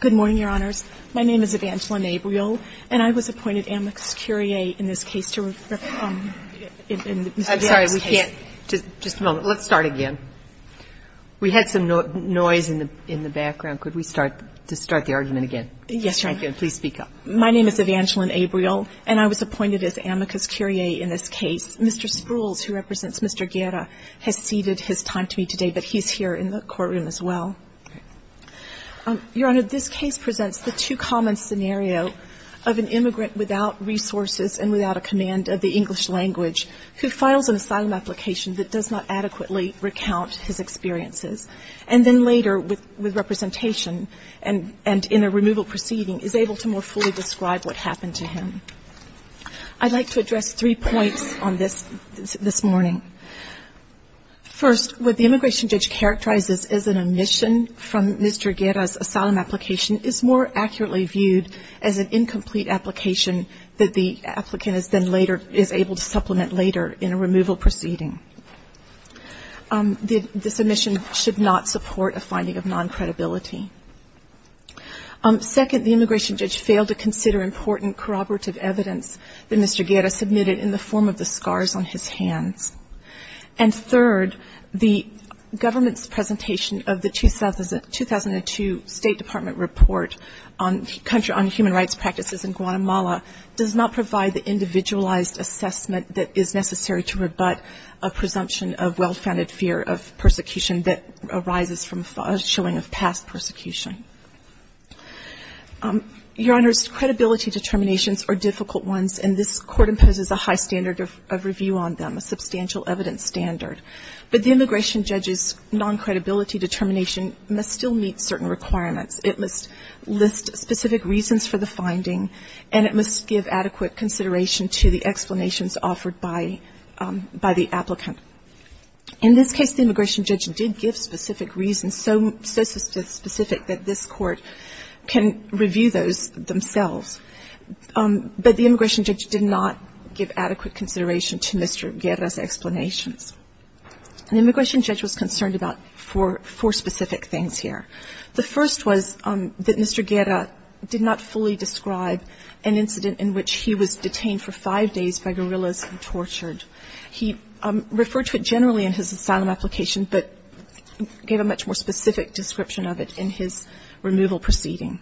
Good morning, Your Honors. My name is Evangeline Abriol, and I was appointed amicus curiae in this case to refer to Mr. Stewart's case. I'm sorry, we can't. Just a moment. Let's start again. We had some noise in the background. Could we start the argument again? Yes, Your Honor. Please speak up. My name is Evangeline Abriol, and I was appointed as amicus curiae in this case. Mr. Spruills, who represents Mr. Guerra, has ceded his time to me today, but he's here in the courtroom as well. Your Honor, this case presents the two-common scenario of an immigrant without resources and without a command of the English language who files an asylum application that does not adequately recount his experiences, and then later, with representation and in a removal proceeding, is able to more fully describe what happened to him. I'd like to address three points on this this morning. First, what the immigration judge characterizes as an omission from Mr. Guerra's asylum application is more accurately viewed as an incomplete application that the applicant is then later is able to supplement later in a removal proceeding. This omission should not support a finding of noncredibility. Second, the immigration judge failed to consider important corroborative evidence that Mr. Guerra submitted in the form of the scars on his hands. And third, the government's presentation of the 2002 State Department report on human rights practices in Guatemala does not provide the individualized assessment that is necessary to rebut a presumption of well-founded fear of persecution that arises from a showing of past persecution. Your Honors, credibility determinations are difficult ones, and this Court imposes a high standard of review on them, a substantial evidence standard. But the immigration judge's noncredibility determination must still meet certain requirements. It must list specific reasons for the finding, and it must give adequate consideration to the explanations offered by the applicant. In this case, the immigration judge did give specific reasons, so specific that this Court can review those themselves, but the immigration judge did not give adequate consideration to Mr. Guerra's explanations. An immigration judge was concerned about four specific things here. The first was that Mr. Guerra did not fully describe an incident in which he was detained for five days by guerrillas and tortured. He referred to it generally in his asylum application, but gave a much more specific description of it in his removal proceeding.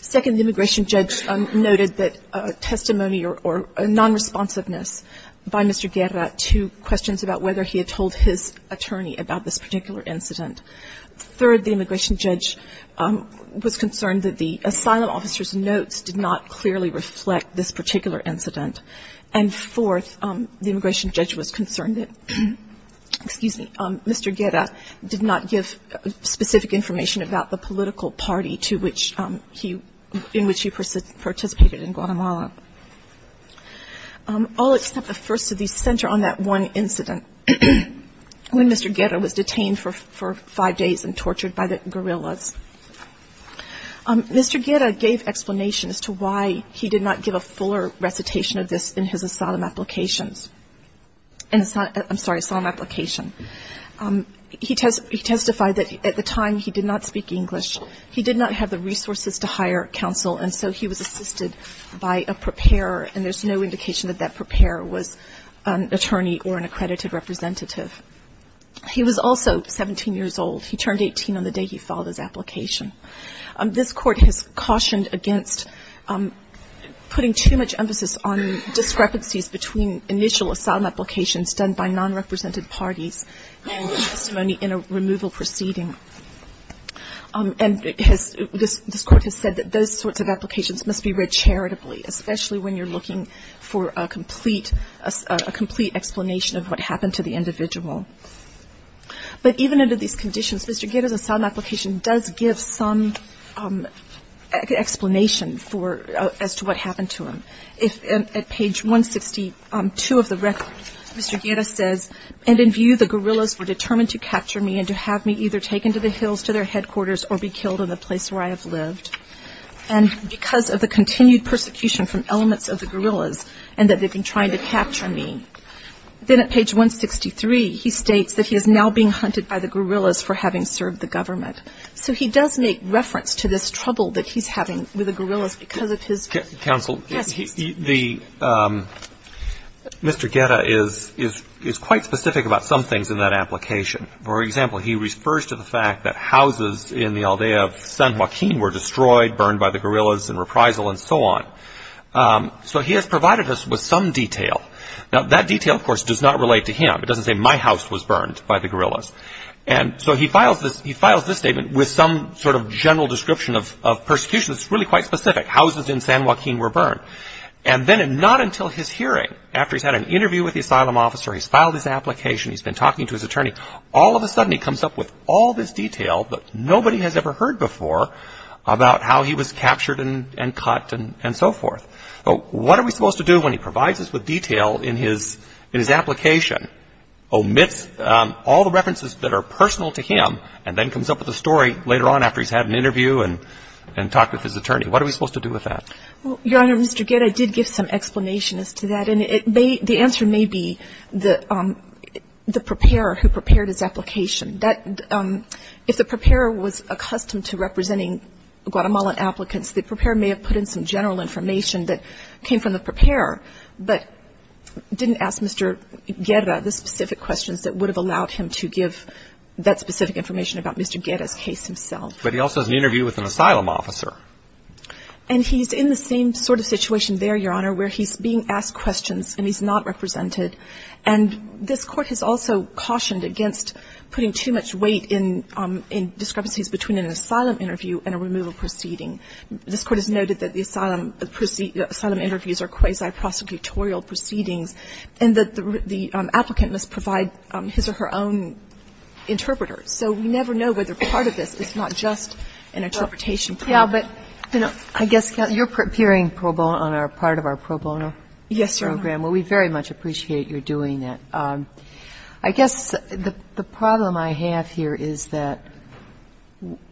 Second, the immigration judge noted that testimony or nonresponsiveness by Mr. Guerra to questions about whether he had told his attorney about this particular incident. Third, the immigration judge was concerned that the asylum officer's notes did not clearly reflect this particular incident. And fourth, the immigration judge was concerned that, excuse me, Mr. Guerra did not give specific information about the political party to which he – in which he participated in Guatemala. All except the first of these center on that one incident, when Mr. Guerra was detained for five days and tortured by the guerrillas. Mr. Guerra gave explanations to why he did not give a fuller recitation of this in his asylum applications. I'm sorry, asylum application. He testified that at the time he did not speak English. He did not have the resources to hire counsel, and so he was assisted by a preparer, and there's no indication that that preparer was an attorney or an accredited representative. He was also 17 years old. He turned 18 on the day he filed his application. This Court has cautioned against putting too much emphasis on discrepancies between initial asylum applications done by non-represented parties and testimony in a removal proceeding. And it has – this Court has said that those sorts of applications must be read charitably, especially when you're looking for a complete – a complete explanation of what happened to the individual. But even under these conditions, Mr. Guerra's asylum application does give some explanation for – as to what happened to him. At page 162 of the record, Mr. Guerra says, and in view the guerrillas were determined to capture me and to have me either taken to the hills to their headquarters or be killed in the place where I have lived. And because of the continued persecution from elements of the guerrillas and that they've been trying to capture me. Then at page 163, he states that he is now being hunted by the guerrillas for having served the government. So he does make reference to this trouble that he's having with the guerrillas because of his past history. Counsel, the – Mr. Guerra is quite specific about some things in that application. For example, he refers to the fact that houses in the aldea of San Joaquin were destroyed, burned by the guerrillas in reprisal and so on. So he has provided us with some detail. Now, that detail, of course, does not relate to him. It doesn't say my house was burned by the guerrillas. And so he files this statement with some sort of general description of persecution that's really quite specific. Houses in San Joaquin were burned. And then not until his hearing, after he's had an interview with the asylum officer, he's filed his application, he's been talking to his attorney, all of a sudden he comes up with all this detail that nobody has ever heard before about how he was captured and cut and so forth. What are we supposed to do when he provides us with detail in his application omits all the references that are personal to him and then comes up with a story later on after he's had an interview and talked with his attorney? What are we supposed to do with that? Your Honor, Mr. Guerra did give some explanation as to that. And the answer may be the preparer who prepared his application. If the preparer was accustomed to representing Guatemalan applicants, the preparer may have put in some general information that came from the preparer but didn't ask Mr. Guerra the specific questions that would have allowed him to give that specific information about Mr. Guerra's case himself. But he also has an interview with an asylum officer. And he's in the same sort of situation there, Your Honor, where he's being asked questions and he's not represented. And this Court has also cautioned against putting too much weight in discrepancies between an asylum interview and a removal proceeding. This Court has noted that the asylum interviews are quasi-prosecutorial proceedings and that the applicant must provide his or her own interpreter. So we never know whether part of this is not just an interpretation. Kagan. Yeah, but, you know, I guess, Your Honor, you're appearing pro bono on our part of our pro bono program. Yes, Your Honor. Well, we very much appreciate your doing that. I guess the problem I have here is that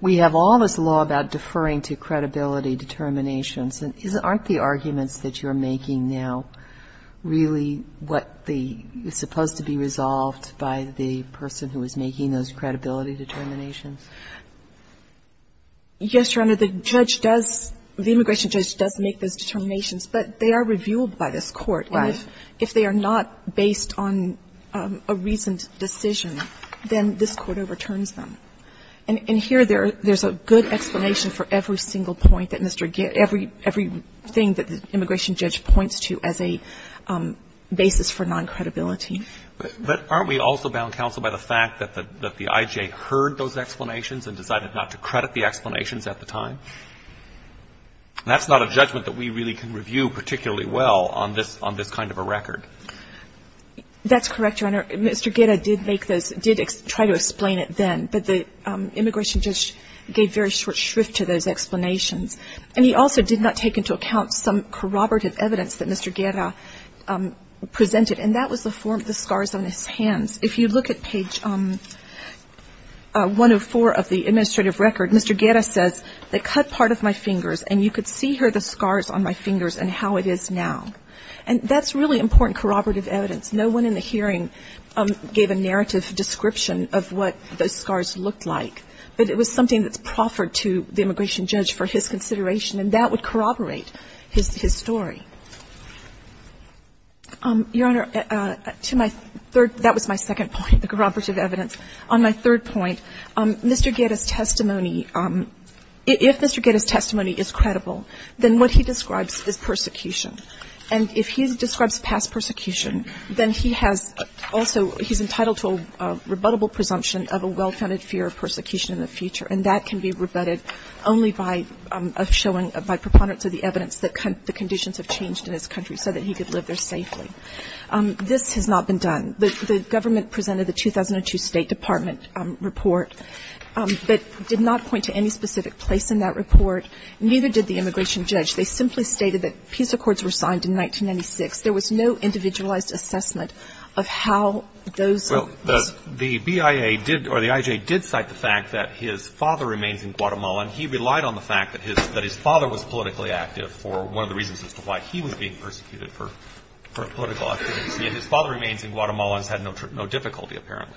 we have all this law about deferring to credibility determinations. Aren't the arguments that you're making now really what is supposed to be resolved by the person who is making those credibility determinations? Yes, Your Honor. The judge does, the immigration judge does make those determinations. But they are reviewed by this Court. Right. And if they are not based on a reasoned decision, then this Court overturns them. And here there's a good explanation for every single point that Mr. Gibbs, every thing that the immigration judge points to as a basis for non-credibility. But aren't we also bound, counsel, by the fact that the IJ heard those explanations and decided not to credit the explanations at the time? And that's not a judgment that we really can review particularly well on this kind of a record. That's correct, Your Honor. Mr. Guerra did make those, did try to explain it then. But the immigration judge gave very short shrift to those explanations. And he also did not take into account some corroborative evidence that Mr. Guerra presented. And that was the form of the scars on his hands. If you look at page 104 of the administrative record, Mr. Guerra says, they cut part of my fingers, and you could see here the scars on my fingers and how it is now. And that's really important corroborative evidence. No one in the hearing gave a narrative description of what those scars looked like. But it was something that's proffered to the immigration judge for his consideration, and that would corroborate his story. Your Honor, to my third, that was my second point, the corroborative evidence. On my third point, Mr. Guerra's testimony, if Mr. Guerra's testimony is credible, then what he describes is persecution. And if he describes past persecution, then he has also, he's entitled to a rebuttable presumption of a well-founded fear of persecution in the future. And that can be rebutted only by showing, by preponderance of the evidence that the conditions have changed in his country so that he could live there safely. This has not been done. The government presented the 2002 State Department report, but did not point to any specific place in that report, neither did the immigration judge. They simply stated that peace accords were signed in 1996. There was no individualized assessment of how those were. Well, the BIA did, or the IJ did cite the fact that his father remains in Guatemala, and he relied on the fact that his father was politically active for one of the reasons as to why he was being persecuted for political activity. His father remains in Guatemala and has had no difficulty, apparently.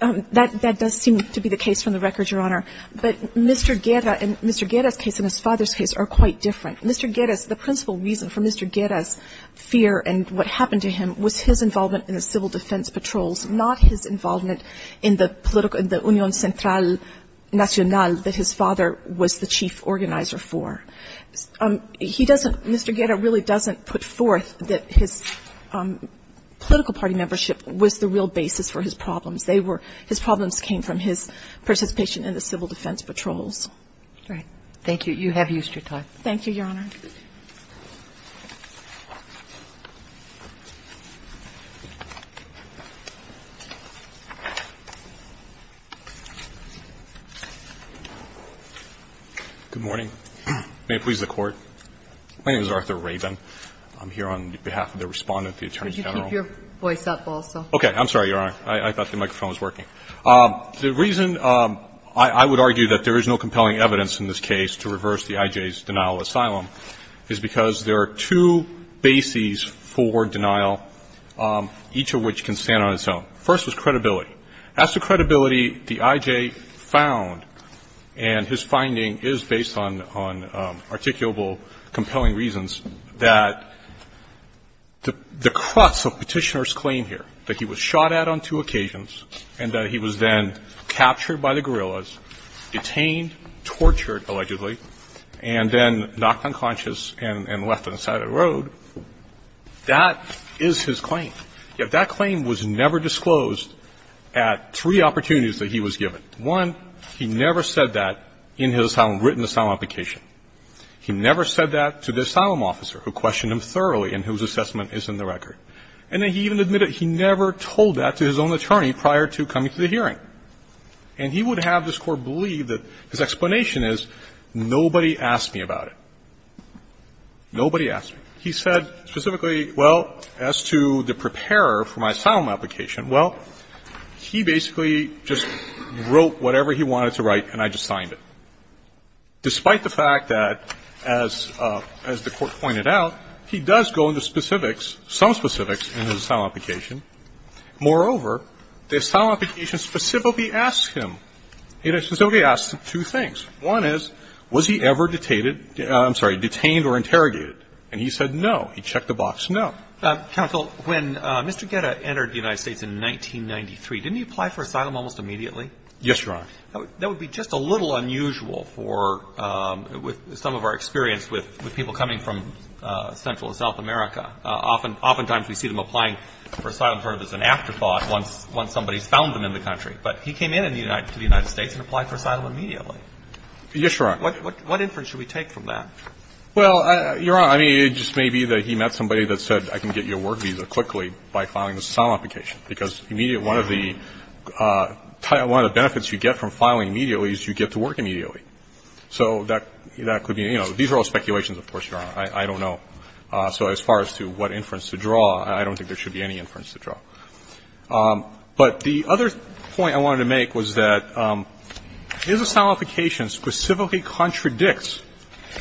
That does seem to be the case from the record, Your Honor. But Mr. Guerra and Mr. Guerra's case and his father's case are quite different. Mr. Guerra's, the principal reason for Mr. Guerra's fear and what happened to him was his involvement in the civil defense patrols, not his involvement in the political organization, the Union Central Nacional that his father was the chief organizer for. He doesn't, Mr. Guerra really doesn't put forth that his political party membership was the real basis for his problems. They were, his problems came from his participation in the civil defense patrols. Right. Thank you. You have used your time. Thank you, Your Honor. Good morning. May it please the Court. My name is Arthur Raven. I'm here on behalf of the Respondent of the Attorney General. Could you keep your voice up also? Okay. I'm sorry, Your Honor. I thought the microphone was working. The reason I would argue that there is no compelling evidence in this case to reverse the I.J.'s denial of asylum is because there are two bases for denial, each of which can stand on its own. First is credibility. As to credibility, the I.J. found, and his finding is based on articulable, compelling reasons, that the crux of Petitioner's claim here, that he was shot at on two occasions and that he was then captured by the guerrillas, detained, tortured, allegedly, and then knocked unconscious and left on the side of the road, that is his claim. Yet that claim was never disclosed at three opportunities that he was given. One, he never said that in his written asylum application. He never said that to the asylum officer who questioned him thoroughly and whose assessment is in the record. And then he even admitted he never told that to his own attorney prior to coming to the hearing. And he would have this Court believe that his explanation is, nobody asked me about it. Nobody asked me. He said specifically, well, as to the preparer for my asylum application, well, he basically just wrote whatever he wanted to write and I just signed it. Despite the fact that, as the Court pointed out, he does go into specifics, some specifics, in his asylum application. Moreover, the asylum application specifically asks him. It specifically asks him two things. One is, was he ever detained or interrogated? And he said no. He checked the box, no. Counsel, when Mr. Guetta entered the United States in 1993, didn't he apply for asylum almost immediately? Yes, Your Honor. That would be just a little unusual for, with some of our experience with people coming from Central and South America. Oftentimes we see them applying for asylum sort of as an afterthought once somebody has found them in the country. But he came in to the United States and applied for asylum immediately. Yes, Your Honor. What inference should we take from that? Well, Your Honor, I mean, it just may be that he met somebody that said, I can get you a work visa quickly by filing this asylum application, because one of the benefits you get from filing immediately is you get to work immediately. So that could be, you know, these are all speculations, of course, Your Honor. I don't know. So as far as to what inference to draw, I don't think there should be any inference to draw. But the other point I wanted to make was that his asylum application specifically contradicts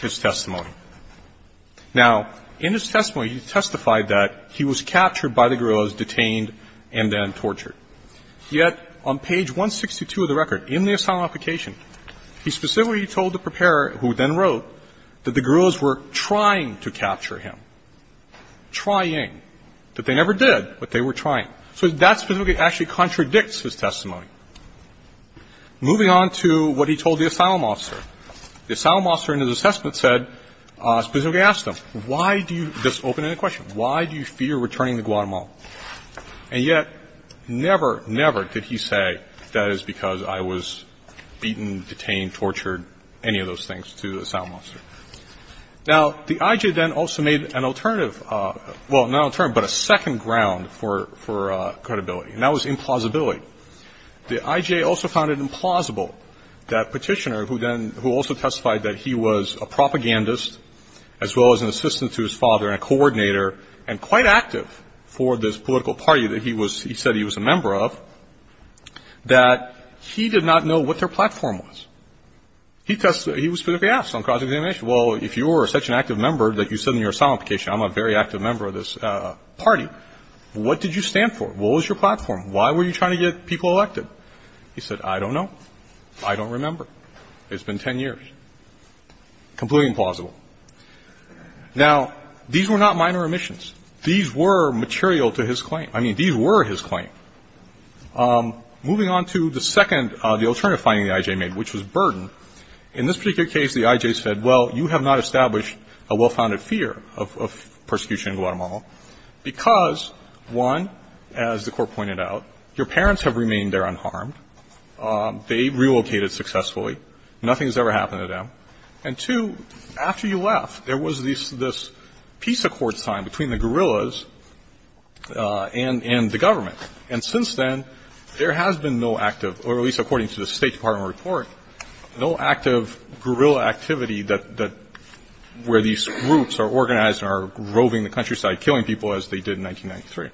his testimony. Now, in his testimony, he testified that he was captured by the guerrillas, detained, and then tortured. Yet on page 162 of the record, in the asylum application, he specifically told the preparer, who then wrote, that the guerrillas were trying to capture him, trying, that they never did, but they were trying. So that specifically actually contradicts his testimony. Moving on to what he told the asylum officer, the asylum officer in his assessment said, specifically asked him, why do you do this? Open-ended question. Why do you fear returning to Guatemala? And yet never, never did he say, that is because I was beaten, detained, tortured, any of those things to the asylum officer. Now, the IJA then also made an alternative, well, not an alternative, but a second ground for credibility. And that was implausibility. The IJA also found it implausible that Petitioner, who then, who also testified that he was a propagandist, as well as an assistant to his father and a coordinator and quite active for this political party that he was, he said he was a member of, that he did not know what their platform was. He was specifically asked on cross-examination, well, if you were such an active member that you said in your asylum application, I'm a very active member of this party, what did you stand for? What was your platform? Why were you trying to get people elected? He said, I don't know. I don't remember. It's been 10 years. Completely implausible. Now, these were not minor omissions. These were material to his claim. I mean, these were his claim. Moving on to the second, the alternative finding the IJA made, which was burden. In this particular case, the IJA said, well, you have not established a well-founded fear of persecution in Guatemala because, one, as the Court pointed out, your parents have remained there unharmed. They relocated successfully. Nothing has ever happened to them. And, two, after you left, there was this peace accord signed between the guerrillas and the government. And since then, there has been no active, or at least according to the State Department report, no active guerrilla activity where these groups are organized and are roving the countryside, killing people, as they did in 1993.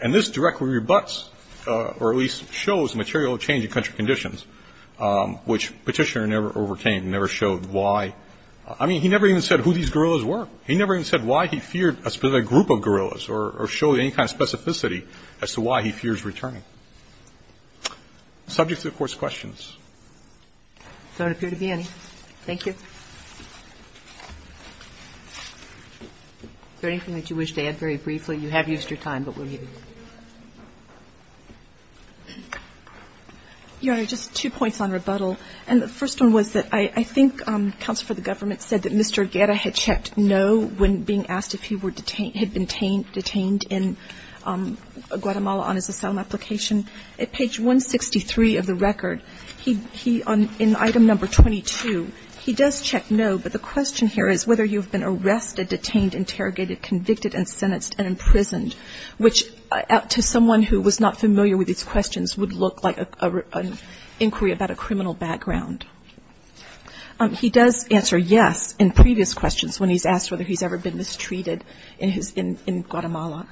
And this directly rebuts or at least shows material change in country conditions, which Petitioner never overcame and never showed why. I mean, he never even said who these guerrillas were. He never even said why he feared a specific group of guerrillas or showed any kind of specificity as to why he fears returning. Subject to the Court's questions. There don't appear to be any. Thank you. Is there anything that you wish to add very briefly? You have used your time, but we'll leave it. Your Honor, just two points on rebuttal. And the first one was that I think counsel for the government said that Mr. Guerra had checked no when being asked if he had been detained in Guatemala on his asylum application. At page 163 of the record, he, in item number 22, he does check no, but the question here is whether you have been arrested, detained, interrogated, convicted and sentenced and imprisoned, which to someone who was not familiar with these questions would look like an inquiry about a criminal background. He does answer yes in previous questions when he's asked whether he's ever been mistreated in his — in Guatemala.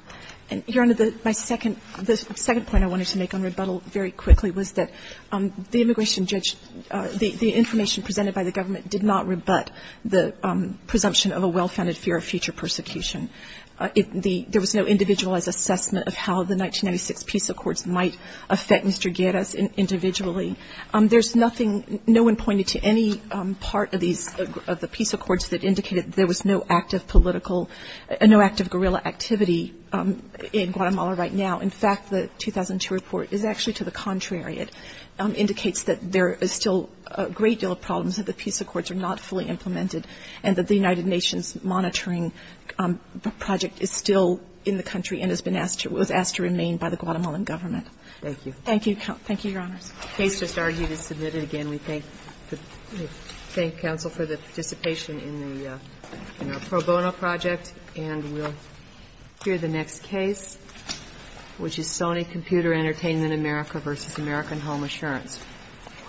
And, Your Honor, my second — the second point I wanted to make on rebuttal very quickly was that the immigration judge — the information presented by the government did not rebut the presumption of a well-founded fear of future persecution. There was no individualized assessment of how the 1996 peace accords might affect Mr. Guerra individually. There's nothing — no one pointed to any part of these — of the peace accords that indicated there was no active political — no active guerrilla activity in Guatemala right now. In fact, the 2002 report is actually to the contrary. It indicates that there is still a great deal of problems, that the peace accords are not fully implemented, and that the United Nations monitoring project is still in the country and has been asked to — was asked to remain by the Guatemalan government. Thank you. Thank you. Thank you, Your Honors. The case just argued is submitted. Again, we thank the — thank counsel for the participation in the — in our pro bono project, and we'll hear the next case, which is Sony Computer Entertainment America v. American Home Assurance.